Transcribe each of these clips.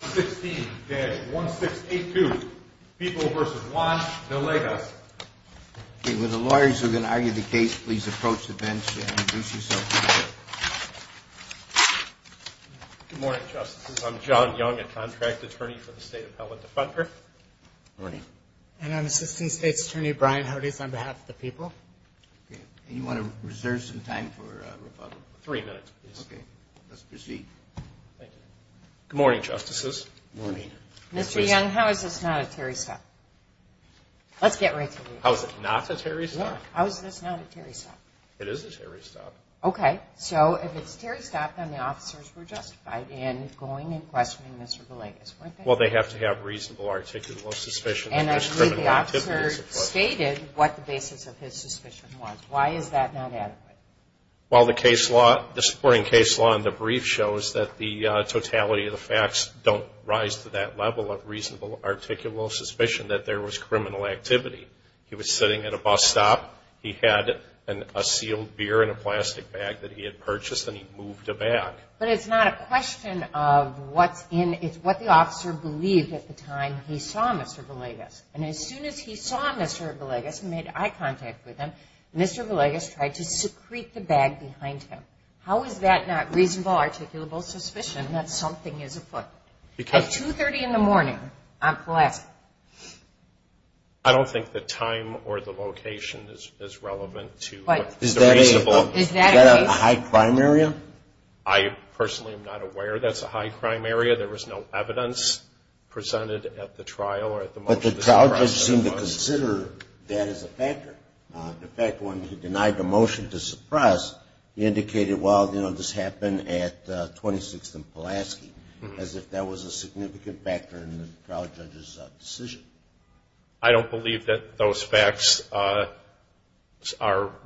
With the lawyers who are going to argue the case, please approach the bench and introduce yourselves. Good morning, Justices. I'm John Young, a contract attorney for the State Appellate Defender. Good morning. And I'm Assistant State's Attorney Brian Hodes on behalf of the people. Do you want to reserve some time for rebuttal? Three minutes, please. Okay. Let's proceed. Good morning, Justices. Good morning. Mr. Young, how is this not a Terry stop? Let's get right to it. How is it not a Terry stop? How is this not a Terry stop? It is a Terry stop. Okay. So if it's a Terry stop, then the officers were justified in going and questioning Mr. Villegas, weren't they? Well, they have to have reasonable, articulable suspicions. And I believe the officer stated what the basis of his suspicion was. Why is that not adequate? Well, the supporting case law in the brief shows that the totality of the facts don't rise to that level of reasonable, articulable suspicion that there was criminal activity. He was sitting at a bus stop. He had a sealed beer in a plastic bag that he had purchased, and he moved it back. But it's not a question of what's in it. It's what the officer believed at the time he saw Mr. Villegas. And as soon as he saw Mr. Villegas and made eye contact with him, Mr. Villegas tried to secrete the bag behind him. How is that not reasonable, articulable suspicion that something is afoot? At 2.30 in the morning on Pulaski. I don't think the time or the location is relevant to what's reasonable. Is that a high crime area? I personally am not aware that's a high crime area. There was no evidence presented at the trial. But the trial judge seemed to consider that as a factor. In fact, when he denied the motion to suppress, he indicated, well, you know, this happened at 26th and Pulaski, as if that was a significant factor in the trial judge's decision. I don't believe that those facts are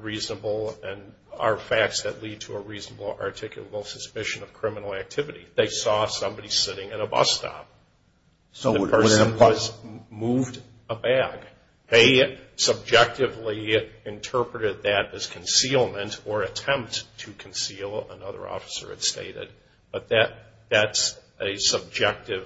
reasonable and are facts that lead to a reasonable, articulable suspicion of criminal activity. They saw somebody sitting at a bus stop. The person moved a bag. They subjectively interpreted that as concealment or attempt to conceal, another officer had stated. But that's a subjective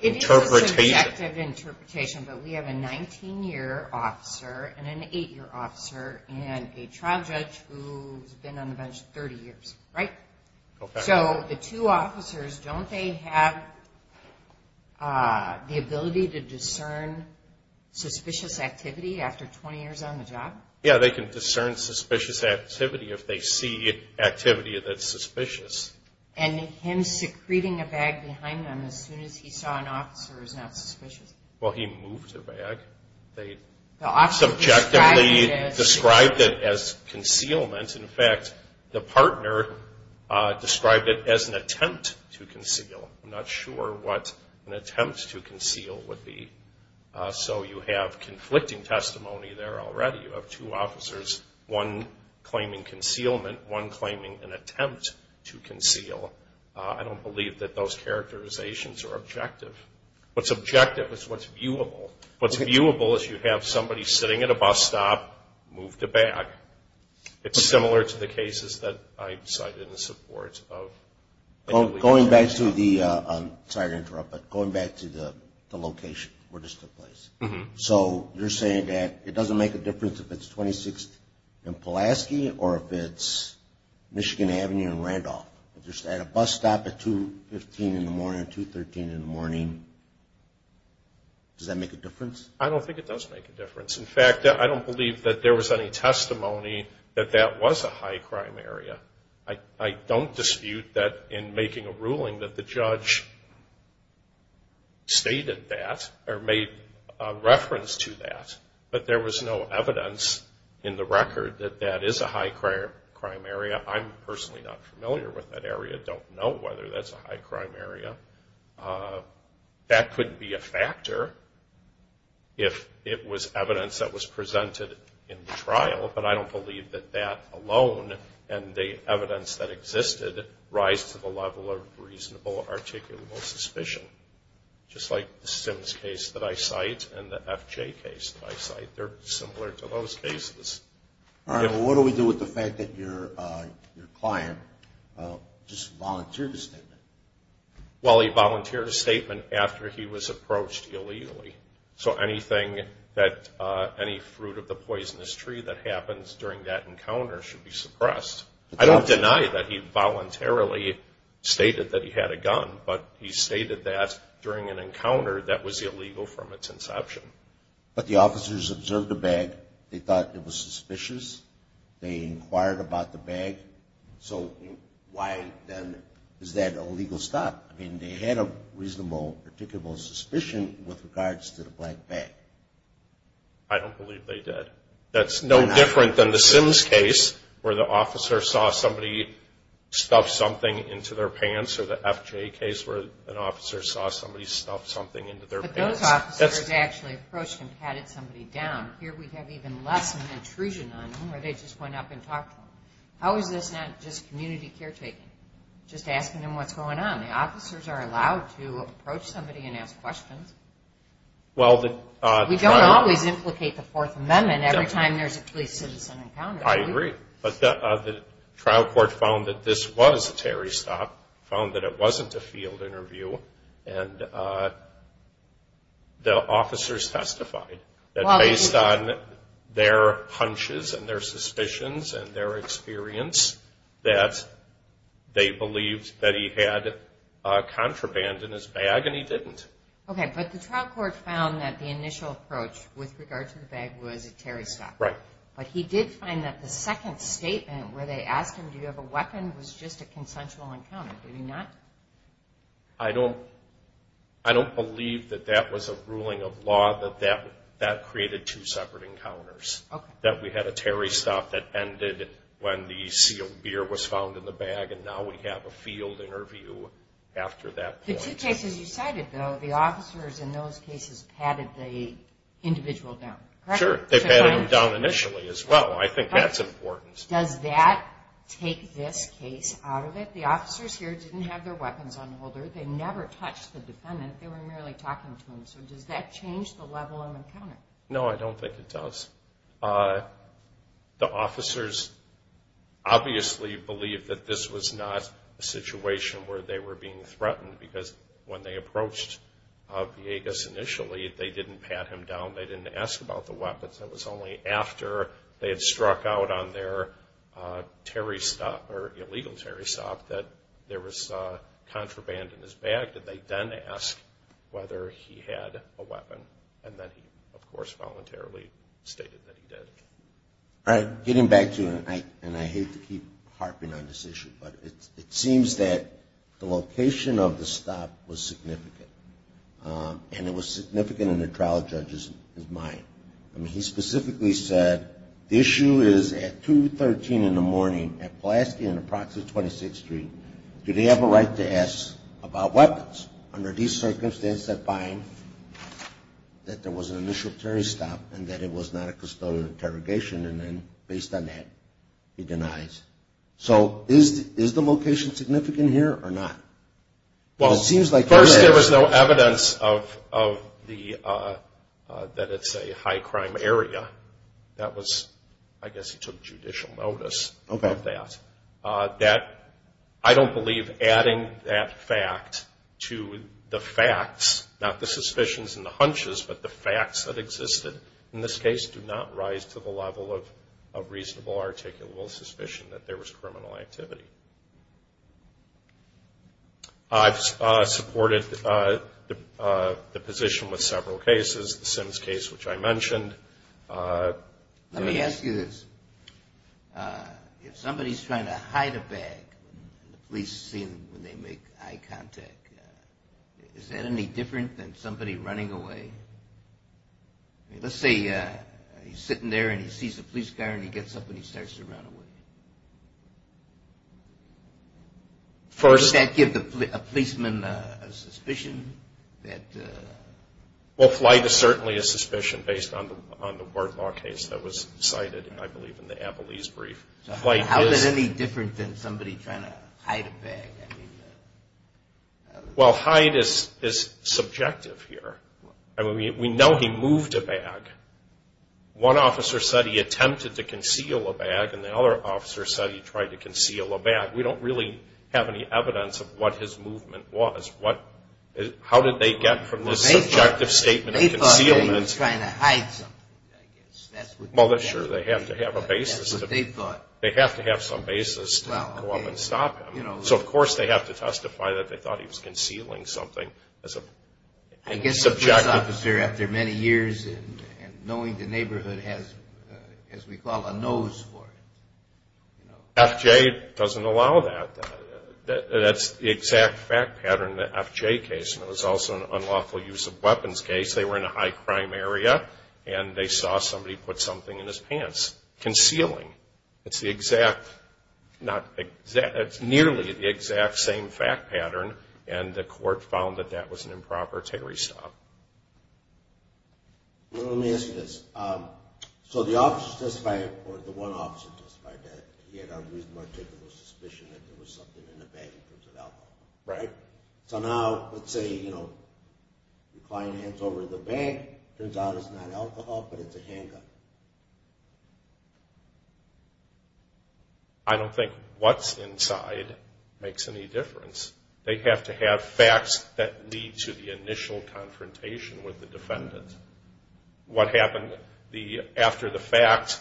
interpretation. It is a subjective interpretation. But we have a 19-year officer and an 8-year officer and a trial judge who's been on the bench 30 years, right? So the two officers, don't they have the ability to discern suspicious activity after 20 years on the job? Yeah, they can discern suspicious activity if they see activity that's suspicious. And him secreting a bag behind them as soon as he saw an officer is not suspicious? Well, he moved the bag. They subjectively described it as concealment. In fact, the partner described it as an attempt to conceal. I'm not sure what an attempt to conceal would be. So you have conflicting testimony there already. You have two officers, one claiming concealment, one claiming an attempt to conceal. I don't believe that those characterizations are objective. What's objective is what's viewable. What's viewable is you have somebody sitting at a bus stop, moved a bag. It's similar to the cases that I cited in support of. Going back to the location where this took place. So you're saying that it doesn't make a difference if it's 26th and Pulaski or if it's Michigan Avenue and Randolph. If you're at a bus stop at 215 in the morning, 213 in the morning, does that make a difference? In fact, I don't believe that there was any testimony that that was a high crime area. I don't dispute that in making a ruling that the judge stated that or made reference to that. But there was no evidence in the record that that is a high crime area. I'm personally not familiar with that area. Don't know whether that's a high crime area. That couldn't be a factor if it was evidence that was presented in the trial. But I don't believe that that alone and the evidence that existed rise to the level of reasonable articulable suspicion. Just like the Sims case that I cite and the FJ case that I cite. They're similar to those cases. All right. Well, what do we do with the fact that your client just volunteered a statement? Well, he volunteered a statement after he was approached illegally. So anything that any fruit of the poisonous tree that happens during that encounter should be suppressed. I don't deny that he voluntarily stated that he had a gun, but he stated that during an encounter that was illegal from its inception. But the officers observed the bag. They thought it was suspicious. They inquired about the bag. So why then is that a legal stop? I mean, they had a reasonable articulable suspicion with regards to the black bag. I don't believe they did. That's no different than the Sims case where the officer saw somebody stuff something into their pants or the FJ case where an officer saw somebody stuff something into their pants. But those officers actually approached and patted somebody down. Here we have even less of an intrusion on them where they just went up and talked to them. How is this not just community caretaking, just asking them what's going on? The officers are allowed to approach somebody and ask questions. We don't always implicate the Fourth Amendment every time there's a police citizen encounter. I agree. But the trial court found that this was a Terry stop, found that it wasn't a field interview. And the officers testified that based on their hunches and their suspicions and their experience that they believed that he had contraband in his bag, and he didn't. Okay. But the trial court found that the initial approach with regards to the bag was a Terry stop. Right. But he did find that the second statement where they asked him, do you have a weapon, was just a consensual encounter. Did he not? I don't believe that that was a ruling of law, that that created two separate encounters. That we had a Terry stop that ended when the sealed beer was found in the bag and now we have a field interview after that point. The two cases you cited, though, the officers in those cases patted the individual down. Correct? Sure. They patted him down initially as well. I think that's important. Does that take this case out of it? The officers here didn't have their weapons on holder. They never touched the defendant. They were merely talking to him. So does that change the level of encounter? No, I don't think it does. The officers obviously believed that this was not a situation where they were being threatened because when they approached Villegas initially, they didn't pat him down. They didn't ask about the weapons. It was only after they had struck out on their Terry stop, or illegal Terry stop, that there was contraband in his bag that they then asked whether he had a weapon. And then he, of course, voluntarily stated that he did. All right. Getting back to you, and I hate to keep harping on this issue, but it seems that the location of the stop was significant. And it was significant in the trial judge's mind. I mean, he specifically said the issue is at 2.13 in the morning at Pulaski and approximately 26th Street. Do they have a right to ask about weapons under these circumstances that bind that there was an initial Terry stop and that it was not a custodial interrogation? And then based on that, he denies. So is the location significant here or not? Well, first there was no evidence that it's a high crime area. That was, I guess he took judicial notice of that. I don't believe adding that fact to the facts, not the suspicions and the hunches, but the facts that existed in this case do not rise to the level of reasonable articulable suspicion that there was criminal activity. I've supported the position with several cases, the Sims case, which I mentioned. Let me ask you this. If somebody's trying to hide a bag and the police see them when they make eye contact, is that any different than somebody running away? Let's say he's sitting there and he sees a police car and he gets up and he starts to run away. Does that give a policeman a suspicion? Well, flight is certainly a suspicion based on the Ward Law case that was cited, I believe, in the Abilese brief. How is it any different than somebody trying to hide a bag? Well, hide is subjective here. I mean, we know he moved a bag. One officer said he attempted to conceal a bag, and the other officer said he tried to conceal a bag. We don't really have any evidence of what his movement was. How did they get from this subjective statement of concealment? They thought he was trying to hide something, I guess. Well, sure, they have to have a basis. They have to have some basis to go up and stop him. So, of course, they have to testify that they thought he was concealing something. I guess the police officer, after many years and knowing the neighborhood, has, as we call it, a nose for it. FJ doesn't allow that. That's the exact fact pattern in the FJ case, and it was also an unlawful use of weapons case. They were in a high-crime area, and they saw somebody put something in his pants, concealing. It's nearly the exact same fact pattern, and the court found that that was an improper Terry stop. Let me ask you this. So the officer testifying in court, the one officer testifying to that, he had a reasonable, articulable suspicion that there was something in the bag in terms of alcohol. Right. So now, let's say, you know, the client hands over the bag. Turns out it's not alcohol, but it's a handgun. I don't think what's inside makes any difference. They have to have facts that lead to the initial confrontation with the defendant. What happened after the fact,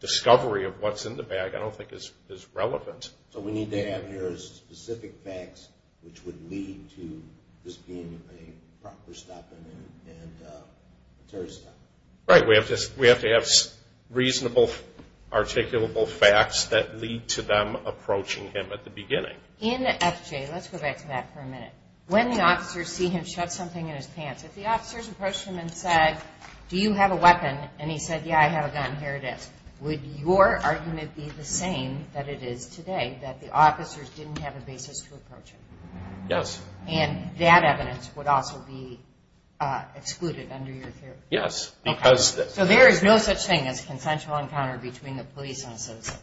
discovery of what's in the bag, I don't think is relevant. So what we need to have here is specific facts which would lead to this being a proper stop and a Terry stop. Right. We have to have reasonable, articulable facts that lead to them approaching him at the beginning. In the FJ, let's go back to that for a minute. When the officers see him shove something in his pants, if the officers approached him and said, do you have a weapon? And he said, yeah, I have a gun. Here it is. Would your argument be the same that it is today, that the officers didn't have a basis to approach him? Yes. And that evidence would also be excluded under your theory? Yes. So there is no such thing as consensual encounter between the police and a citizen?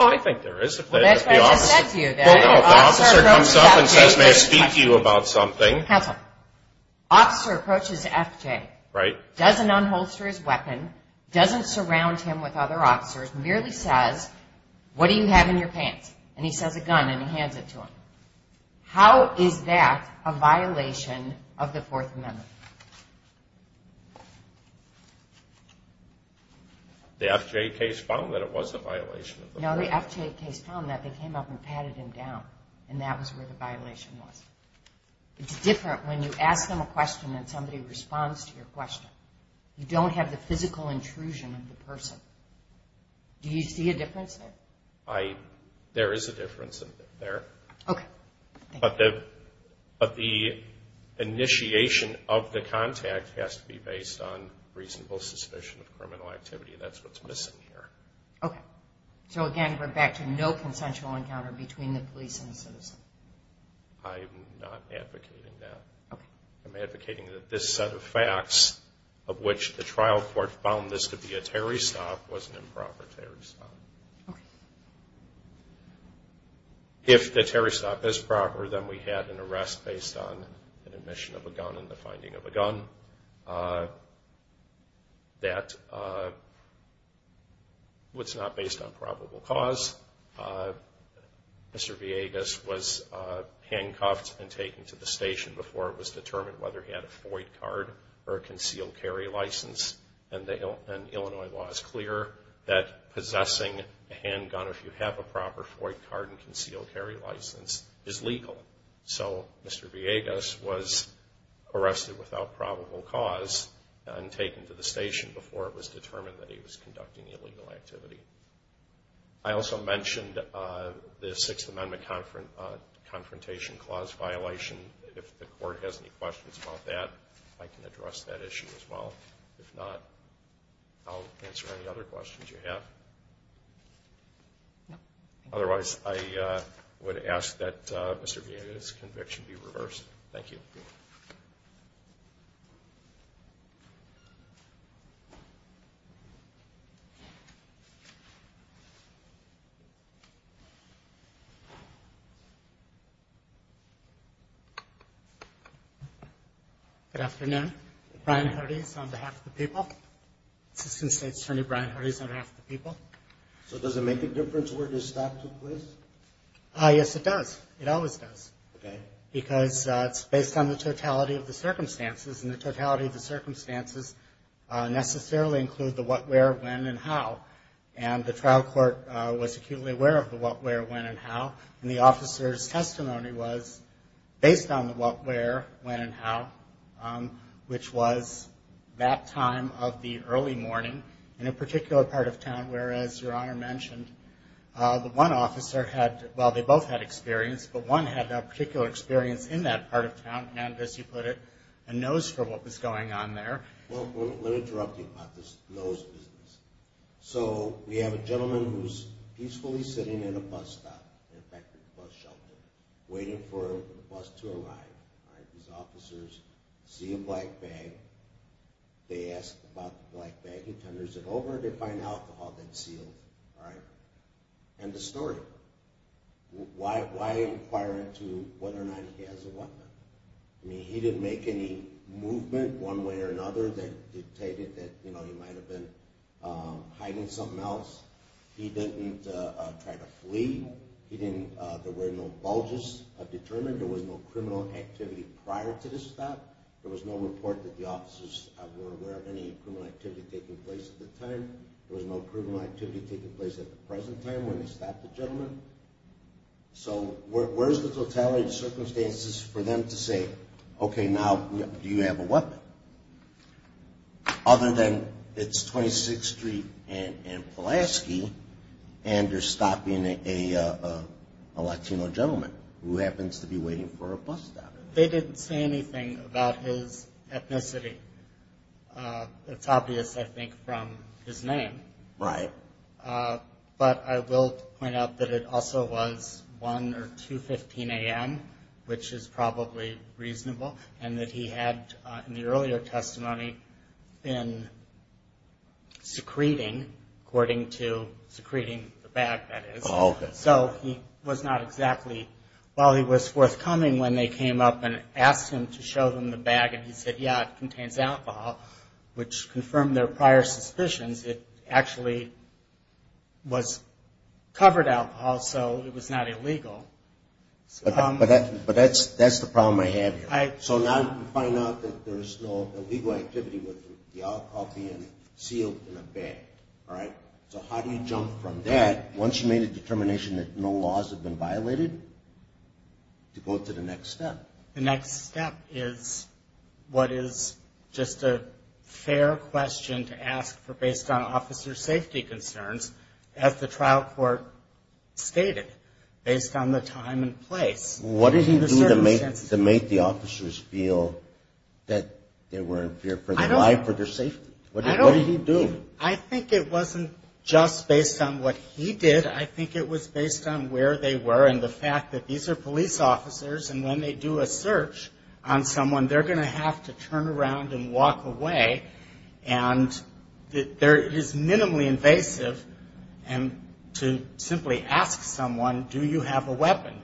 I think there is. Well, that's what I just said to you. Well, no, if the officer comes up and says, may I speak to you about something? Counsel. The officer approaches FJ, doesn't unholster his weapon, doesn't surround him with other officers, merely says, what do you have in your pants? And he says, a gun, and he hands it to him. How is that a violation of the Fourth Amendment? The FJ case found that it was a violation of the Fourth Amendment. No, the FJ case found that they came up and patted him down, and that was where the violation was. It's different when you ask them a question and somebody responds to your question. You don't have the physical intrusion of the person. Do you see a difference there? There is a difference there. Okay. But the initiation of the contact has to be based on reasonable suspicion of criminal activity. That's what's missing here. Okay. So, again, we're back to no consensual encounter between the police and the citizen? I'm not advocating that. Okay. I'm advocating that this set of facts, of which the trial court found this to be a Terry stop, was an improper Terry stop. Okay. If the Terry stop is proper, then we had an arrest based on an admission of a gun and the finding of a gun. That was not based on probable cause. Mr. Villegas was handcuffed and taken to the station before it was determined whether he had a FOID card or a concealed carry license. And Illinois law is clear that possessing a handgun, if you have a proper FOID card and concealed carry license, is legal. So Mr. Villegas was arrested without probable cause and taken to the station before it was determined that he was conducting illegal activity. I also mentioned the Sixth Amendment Confrontation Clause violation. If the court has any questions about that, I can address that issue as well. If not, I'll answer any other questions you have. Otherwise, I would ask that Mr. Villegas' conviction be reversed. Thank you. Thank you. Good afternoon. Brian Hodes on behalf of the people. Assistant State Attorney Brian Hodes on behalf of the people. So does it make a difference where the stop took place? Yes, it does. It always does. Okay. Because it's based on the totality of the circumstances, and the totality of the circumstances necessarily include the what, where, when, and how. And the trial court was acutely aware of the what, where, when, and how. And the officer's testimony was based on the what, where, when, and how, which was that time of the early morning in a particular part of town where, as Your Honor mentioned, the one officer had, well, they both had experience, and as you put it, a nose for what was going on there. Well, let me interrupt you about this nose business. So we have a gentleman who's peacefully sitting in a bus stop, in fact, a bus shelter, waiting for the bus to arrive. These officers see a black bag. They ask about the black bag. He tenders it over. They find alcohol that's sealed. All right. End of story. Why inquire into whether or not he has a weapon? I mean, he didn't make any movement one way or another that dictated that he might have been hiding something else. He didn't try to flee. There were no bulges determined. There was no criminal activity prior to this fact. There was no report that the officers were aware of any criminal activity taking place at the time. There was no criminal activity taking place at the present time when they stopped the gentleman. So where is the totality of the circumstances for them to say, okay, now, do you have a weapon? Other than it's 26th Street and Pulaski, and they're stopping a Latino gentleman who happens to be waiting for a bus stop. They didn't say anything about his ethnicity. It's obvious, I think, from his name. Right. But I will point out that it also was 1 or 2.15 a.m., which is probably reasonable, and that he had, in the earlier testimony, been secreting, according to secreting the bag, that is. Oh, okay. So he was not exactly well. He was forthcoming when they came up and asked him to show them the bag, and he said, yeah, it contains alcohol, which confirmed their prior suspicions. It actually was covered alcohol, so it was not illegal. But that's the problem I have here. So now you can find out that there is no illegal activity with the alcohol being sealed in a bag. All right? So how do you jump from that, once you made a determination that no laws have been violated, to go to the next step? The next step is what is just a fair question to ask based on officer safety concerns, as the trial court stated, based on the time and place. What did he do to make the officers feel that they were in fear for their life or their safety? What did he do? I think it wasn't just based on what he did. I think it was based on where they were and the fact that these are police officers, and when they do a search on someone, they're going to have to turn around and walk away. And it is minimally invasive to simply ask someone, do you have a weapon?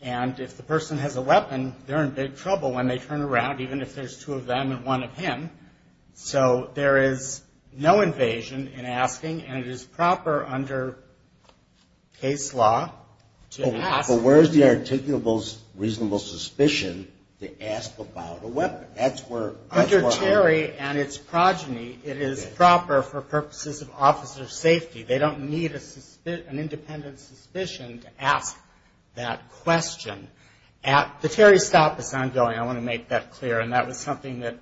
And if the person has a weapon, they're in big trouble when they turn around, even if there's two of them and one of him. So there is no invasion in asking, and it is proper under case law to ask. But where is the articulable reasonable suspicion to ask about a weapon? Under Terry and its progeny, it is proper for purposes of officer safety. They don't need an independent suspicion to ask that question. The Terry stop is ongoing, I want to make that clear, and that was something that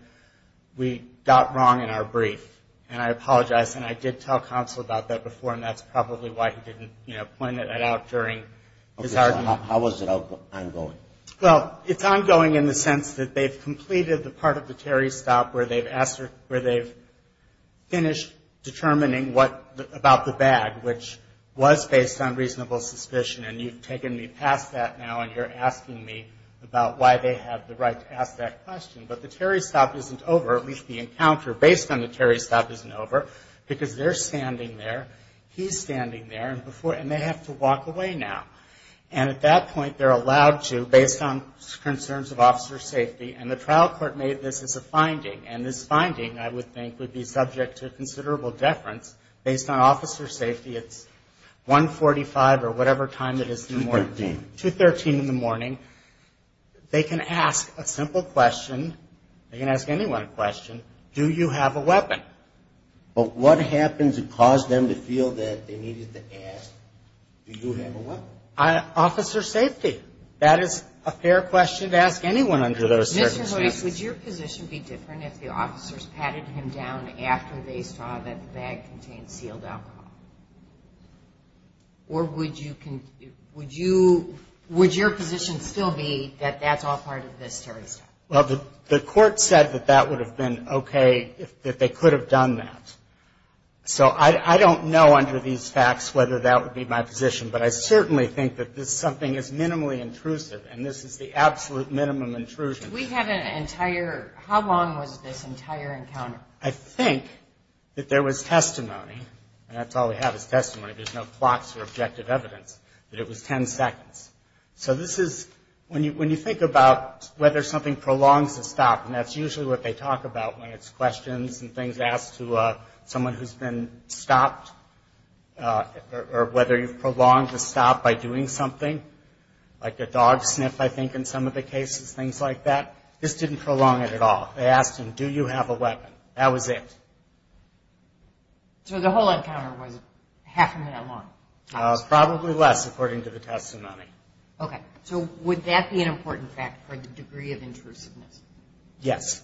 we got wrong in our brief. And I apologize, and I did tell counsel about that before, and that's probably why he didn't point it out during his argument. Okay, so how is it ongoing? Well, it's ongoing in the sense that they've completed the part of the Terry stop where they've finished determining about the bag, which was based on reasonable suspicion. And you've taken me past that now, and you're asking me about why they have the right to ask that question. But the Terry stop isn't over, at least the encounter based on the Terry stop isn't over, because they're standing there, he's standing there, and they have to walk away now. And at that point, they're allowed to, based on concerns of officer safety, and the trial court made this as a finding. And this finding, I would think, would be subject to considerable deference. Based on officer safety, it's 145 or whatever time it is in the morning. 213. 213 in the morning. They can ask a simple question, they can ask anyone a question, do you have a weapon? But what happened to cause them to feel that they needed to ask, do you have a weapon? Officer safety. That is a fair question to ask anyone under those circumstances. Would your position be different if the officers patted him down after they saw that the bag contained sealed alcohol? Or would you, would your position still be that that's all part of this Terry stop? Well, the court said that that would have been okay, that they could have done that. So I don't know under these facts whether that would be my position, but I certainly think that this is something that is minimally intrusive, and this is the absolute minimum intrusion. We have an entire, how long was this entire encounter? I think that there was testimony, and that's all we have is testimony, there's no plots or objective evidence, that it was 10 seconds. So this is, when you think about whether something prolongs the stop, and that's usually what they talk about when it's questions and things asked to someone who's been stopped, or whether you've prolonged the stop by doing something, like a dog sniff, I think, in some of the cases, things like that, this didn't prolong it at all. They asked him, do you have a weapon? That was it. So the whole encounter was half a minute long? Probably less, according to the testimony. Okay. So would that be an important fact for the degree of intrusiveness? Yes.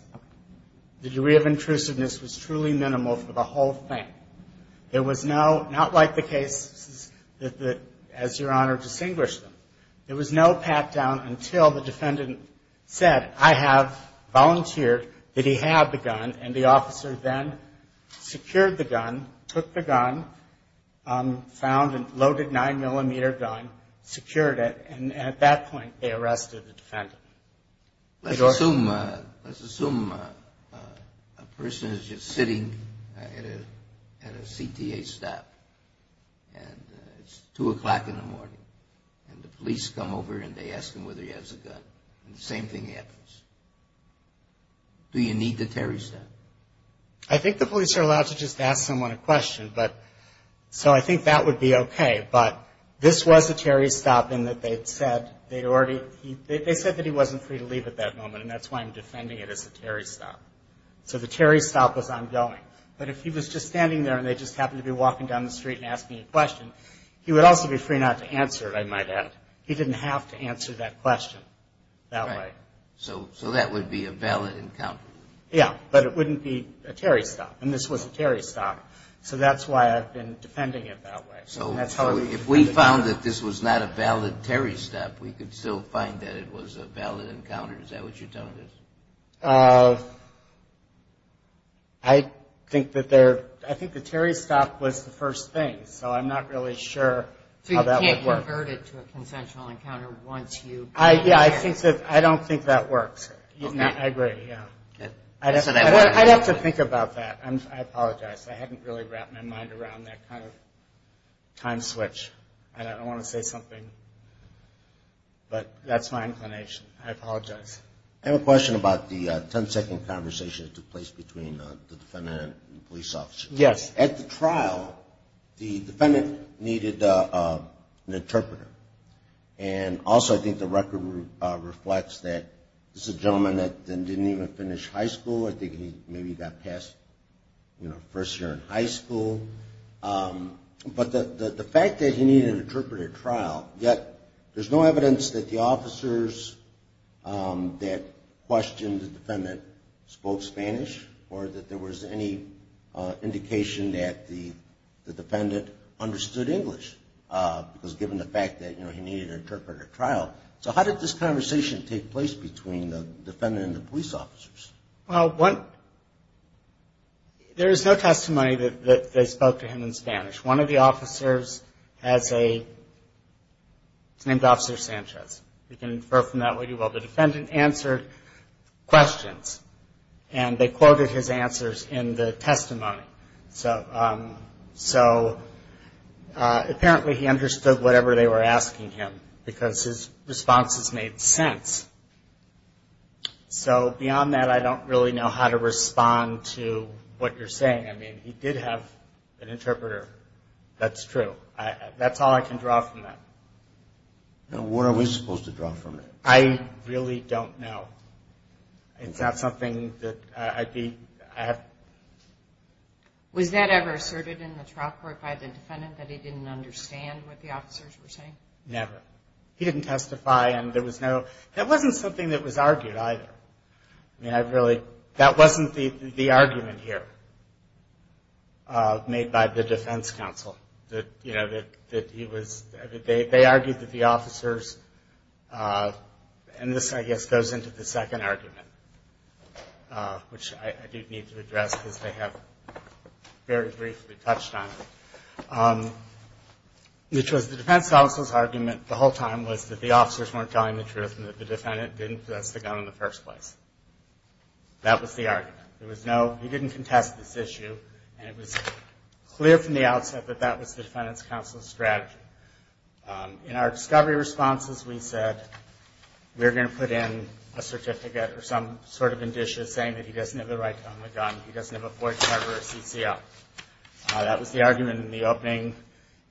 The degree of intrusiveness was truly minimal for the whole thing. There was no, not like the cases that, as Your Honor distinguished them, there was no pat-down until the defendant said, I have volunteered that he have the gun, and the officer then secured the gun, took the gun, found a loaded 9-millimeter gun, secured it, and at that point they arrested the defendant. Let's assume a person is just sitting at a CTA stop, and it's 2 o'clock in the morning, and the police come over and they ask him whether he has a gun, and the same thing happens. Do you need the Terry stop? I think the police are allowed to just ask someone a question, but, so I think that would be okay. But this was a Terry stop in that they'd said they'd already, they said that he wasn't free to leave at that moment, and that's why I'm defending it as a Terry stop. So the Terry stop was ongoing. But if he was just standing there and they just happened to be walking down the street and asking a question, he would also be free not to answer it, I might add. He didn't have to answer that question that way. So that would be a valid encounter. Yeah, but it wouldn't be a Terry stop, and this was a Terry stop. So that's why I've been defending it that way. So if we found that this was not a valid Terry stop, we could still find that it was a valid encounter. Is that what you're telling us? I think that there, I think the Terry stop was the first thing, so I'm not really sure how that would work. So you can't convert it to a consensual encounter once you? Yeah, I don't think that works. I agree, yeah. I'd have to think about that. I apologize. I hadn't really wrapped my mind around that kind of time switch, and I don't want to say something, but that's my inclination. I apologize. Next. I have a question about the 10-second conversation that took place between the defendant and the police officer. Yes. At the trial, the defendant needed an interpreter, and also I think the record reflects that this is a gentleman that didn't even finish high school. I think he maybe got past, you know, first year in high school. But the fact that he needed an interpreter at trial, yet there's no evidence that the officers that questioned the defendant spoke Spanish, or that there was any indication that the defendant understood English, because given the fact that, you know, he needed an interpreter at trial. So how did this conversation take place between the defendant and the police officers? Well, there is no testimony that they spoke to him in Spanish. One of the officers has a – he's named Officer Sanchez. You can infer from that what you will. The defendant answered questions, and they quoted his answers in the testimony. So apparently he understood whatever they were asking him, because his responses made sense. So beyond that, I don't really know how to respond to what you're saying. I mean, he did have an interpreter. That's true. That's all I can draw from that. What are we supposed to draw from it? I really don't know. It's not something that I'd be – I have – Was that ever asserted in the trial court by the defendant, that he didn't understand what the officers were saying? Never. He didn't testify, and there was no – that wasn't something that was argued either. I mean, I really – that wasn't the argument here made by the defense counsel, that, you know, that he was – they argued that the officers – and this, I guess, goes into the second argument, which I do need to address because they have very briefly touched on it, which was the defense counsel's argument the whole time was that the officers weren't telling the truth and that the defendant didn't possess the gun in the first place. That was the argument. There was no – he didn't contest this issue, and it was clear from the outset that that was the defendant's counsel's strategy. In our discovery responses, we said, we're going to put in a certificate or some sort of indicia saying that he doesn't have the right to own the gun, he doesn't have a void cover or a CCO. That was the argument in the opening,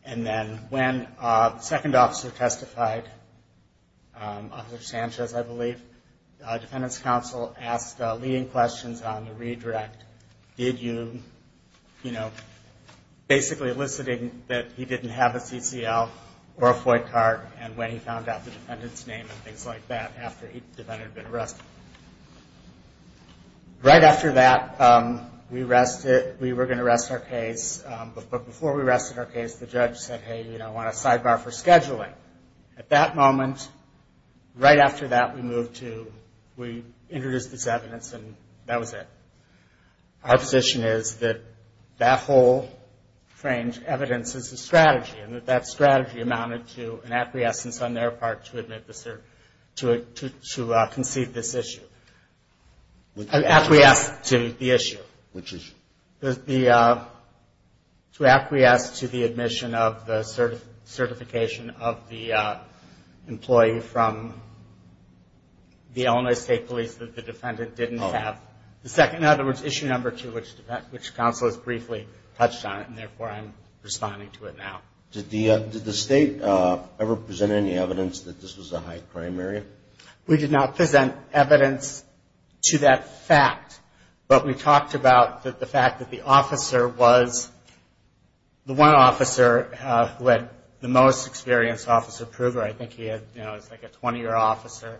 and then when the second officer testified, Officer Sanchez, I believe, the defendant's counsel asked leading questions on the redirect. Did you – you know, basically eliciting that he didn't have a CCL or a void card, and when he found out the defendant's name and things like that after the defendant had been arrested. Right after that, we arrested – we were going to arrest our case, but before we arrested our case, the judge said, hey, you know, I want a sidebar for scheduling. At that moment, right after that, we moved to – we introduced this evidence, and that was it. Our position is that that whole framed evidence is a strategy, and that that strategy amounted to an acquiescence on their part to admit the – to concede this issue. Acquiesce to the issue. Which issue? The – to acquiesce to the admission of the certification of the employee from the Illinois State Police that the defendant didn't have. Oh. The second – in other words, issue number two, which counsel has briefly touched on it, and therefore I'm responding to it now. Did the – did the State ever present any evidence that this was a high-crime area? We did not present evidence to that fact, but we talked about the fact that the officer was – the one officer who had the most experience, Officer Pruver, I think he had – you know, he's like a 20-year officer,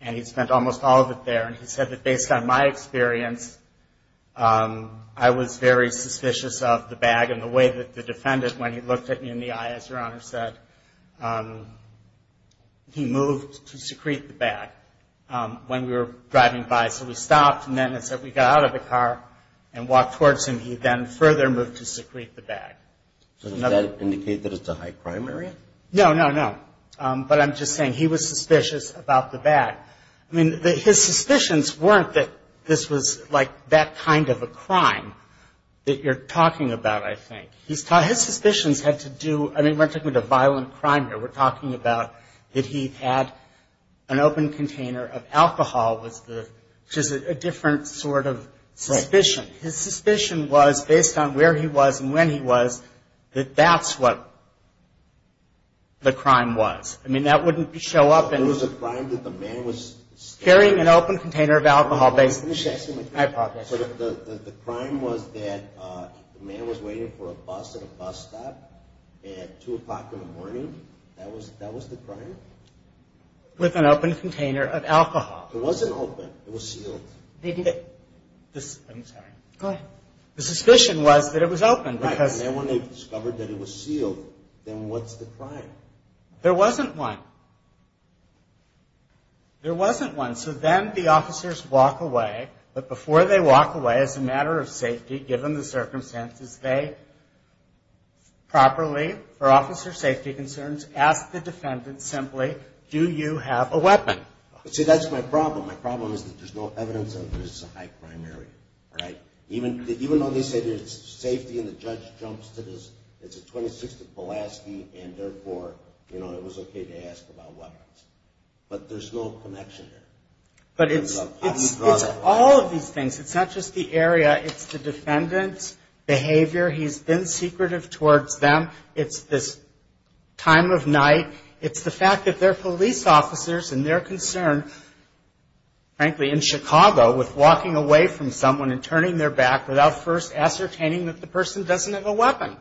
and he spent almost all of it there, and he said that based on my experience, I was very suspicious of the bag, and the way that the defendant, when he looked at me in the eye, as Your Honor said, he moved to secrete the bag when we were driving by. So we stopped, and then as we got out of the car and walked towards him, he then further moved to secrete the bag. Does that indicate that it's a high-crime area? No, no, no. But I'm just saying he was suspicious about the bag. I mean, his suspicions weren't that this was like that kind of a crime that you're talking about, I think. His suspicions had to do – I mean, we're not talking about a violent crime here. We're talking about that he had an open container of alcohol, which is a different sort of suspicion. His suspicion was, based on where he was and when he was, that that's what the crime was. I mean, that wouldn't show up in – Carrying an open container of alcohol, based on the hypothesis. So the crime was that the man was waiting for a bus at a bus stop at 2 o'clock in the morning? That was the crime? With an open container of alcohol. It wasn't open. It was sealed. I'm sorry. Go ahead. The suspicion was that it was open because – Right, and then when they discovered that it was sealed, then what's the crime? There wasn't one. There wasn't one. So then the officers walk away, but before they walk away, as a matter of safety, given the circumstances, they properly, for officer safety concerns, ask the defendant simply, do you have a weapon? See, that's my problem. My problem is that there's no evidence that this is a high crime area, right? Even though they say there's safety and the judge jumps to this, it's a 26th of Pulaski, and therefore, you know, it was okay to ask about weapons. But there's no connection there. But it's all of these things. It's not just the area. It's the defendant's behavior. He's been secretive towards them. It's this time of night. It's the fact that they're police officers, and their concern, frankly, in Chicago, with walking away from someone and turning their back without first ascertaining that the person doesn't have a weapon.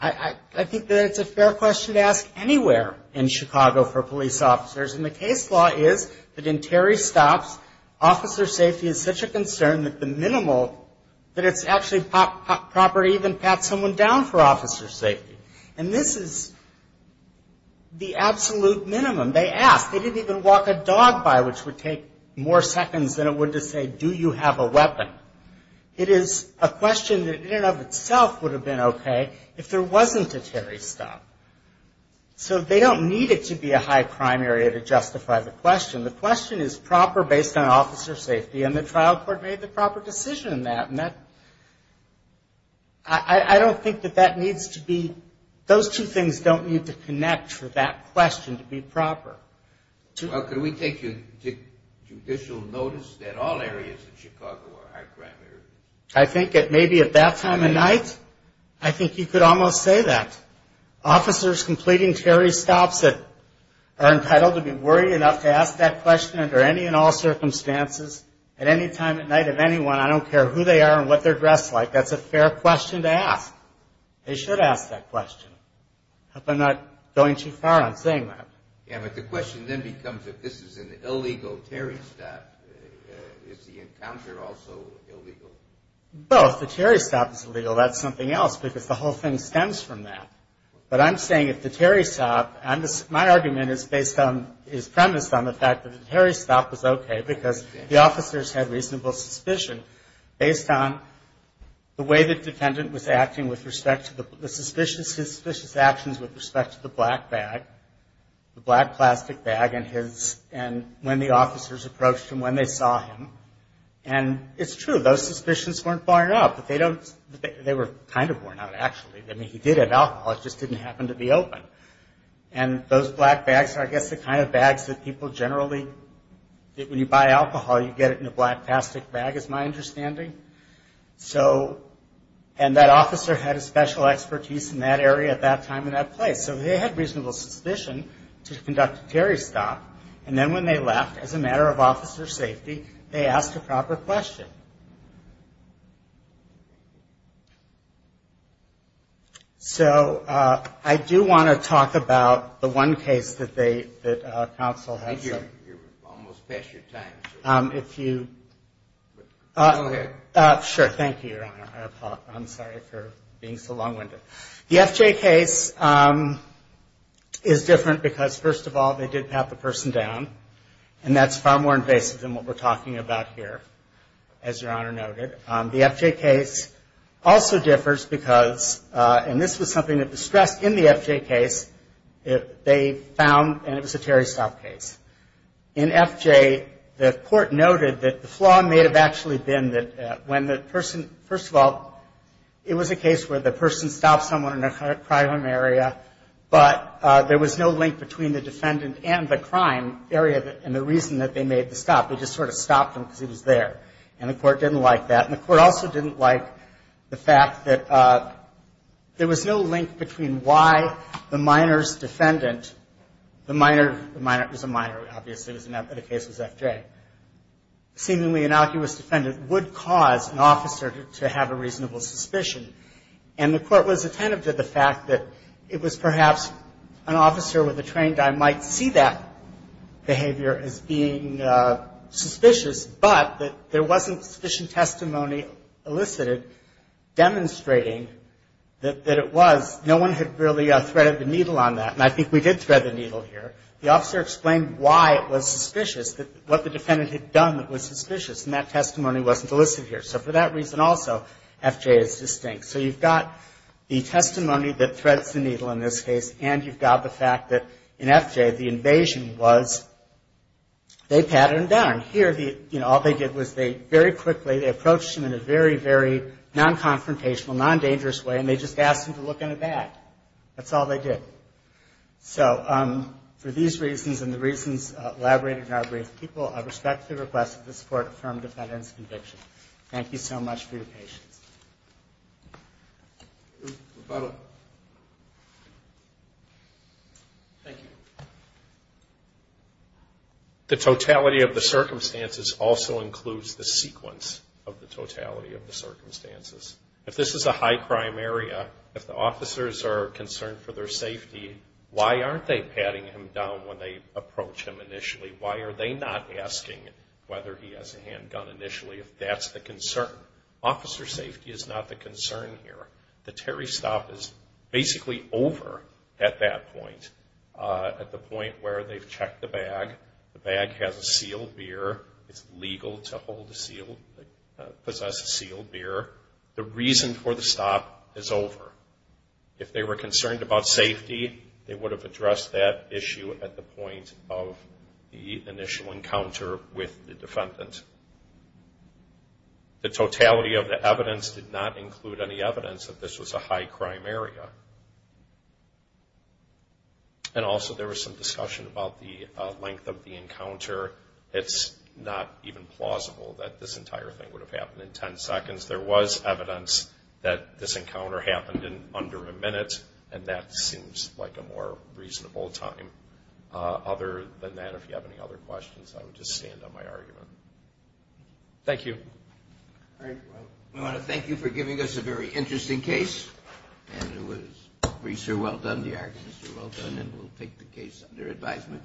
I think that it's a fair question to ask anywhere in Chicago for police officers, and the case law is that in Terry Stops, officer safety is such a concern that the minimal, that it's actually proper to even pat someone down for officer safety. And this is the absolute minimum. They asked. They didn't even walk a dog by, which would take more seconds than it would to say, do you have a weapon? It is a question that in and of itself would have been okay if there wasn't a Terry Stop. So they don't need it to be a high crime area to justify the question. The question is proper based on officer safety, and the trial court made the proper decision in that. And that, I don't think that that needs to be, those two things don't need to connect for that question to be proper. Well, could we take judicial notice that all areas in Chicago are high crime areas? I think that maybe at that time of night, I think you could almost say that. Officers completing Terry Stops that are entitled to be worried enough to ask that question under any and all circumstances, at any time at night of anyone, I don't care who they are and what they're dressed like, that's a fair question to ask. They should ask that question. I hope I'm not going too far on saying that. Yeah, but the question then becomes if this is an illegal Terry Stop, is the encounter also illegal? Well, if the Terry Stop is illegal, that's something else because the whole thing stems from that. But I'm saying if the Terry Stop, my argument is based on, is premised on the fact that the Terry Stop was okay because the officers had reasonable suspicion based on the way the defendant was acting with respect to the suspicious, his suspicious actions with respect to the black bag, the black plastic bag, and when the officers approached him, when they saw him. And it's true, those suspicions weren't borne out, but they don't, they were kind of borne out actually. I mean, he did have alcohol. It just didn't happen to be open. And those black bags are, I guess, the kind of bags that people generally, when you buy alcohol, you get it in a black plastic bag is my understanding. So, and that officer had a special expertise in that area at that time and that place. So they had reasonable suspicion to conduct a Terry Stop. And then when they left, as a matter of officer safety, they asked a proper question. So I do want to talk about the one case that they, that counsel has. I think you're almost past your time. If you. Go ahead. Sure. Thank you, Your Honor. I'm sorry for being so long-winded. The FJ case is different because, first of all, they did pat the person down. And that's far more invasive than what we're talking about here, as Your Honor noted. The FJ case also differs because, and this was something that was stressed in the FJ case, they found, and it was a Terry Stop case. In FJ, the court noted that the flaw may have actually been that when the person, first of all, it was a case where the person stopped someone in a crime area, but there was no link between the defendant and the crime area and the reason that they made the stop. They just sort of stopped him because he was there. And the court didn't like that. And the court also didn't like the fact that there was no link between why the minor's defendant, the minor, the minor was a minor, obviously, but the case was FJ, seemingly innocuous defendant would cause an officer to have a reasonable suspicion. And the court was attentive to the fact that it was perhaps an officer with a trained eye might see that behavior as being suspicious, but that there wasn't sufficient testimony elicited demonstrating that it was. No one had really threaded the needle on that. And I think we did thread the needle here. The officer explained why it was suspicious, what the defendant had done that was suspicious, and that testimony wasn't elicited here. So for that reason also, FJ is distinct. So you've got the testimony that threads the needle in this case, and you've got the fact that in FJ, the invasion was they patted him down. Here, you know, all they did was they very quickly, they approached him in a very, very non-confrontational, non-dangerous way, and they just asked him to look in the back. That's all they did. So for these reasons and the reasons elaborated in our brief, people, I respectfully request that this court affirm defendant's conviction. Thank you so much for your patience. The totality of the circumstances also includes the sequence of the totality of the circumstances. If this is a high-crime area, if the officers are concerned for their safety, why aren't they patting him down when they approach him initially? Why are they not asking whether he has a handgun initially if that's the concern? Officer safety is not the concern here. The Terry stop is basically over at that point, at the point where they've checked the bag. The bag has a sealed beer. It's legal to possess a sealed beer. The reason for the stop is over. If they were concerned about safety, they would have addressed that issue at the point of the initial encounter with the defendant. The totality of the evidence did not include any evidence that this was a high-crime area. Also, there was some discussion about the length of the encounter. It's not even plausible that this entire thing would have happened in 10 seconds. There was evidence that this encounter happened in under a minute, and that seems like a more reasonable time. Other than that, if you have any other questions, I would just stand on my argument. Thank you. We want to thank you for giving us a very interesting case. It was a great show. Well done. The arguments were well done, and we'll take the case under advisement.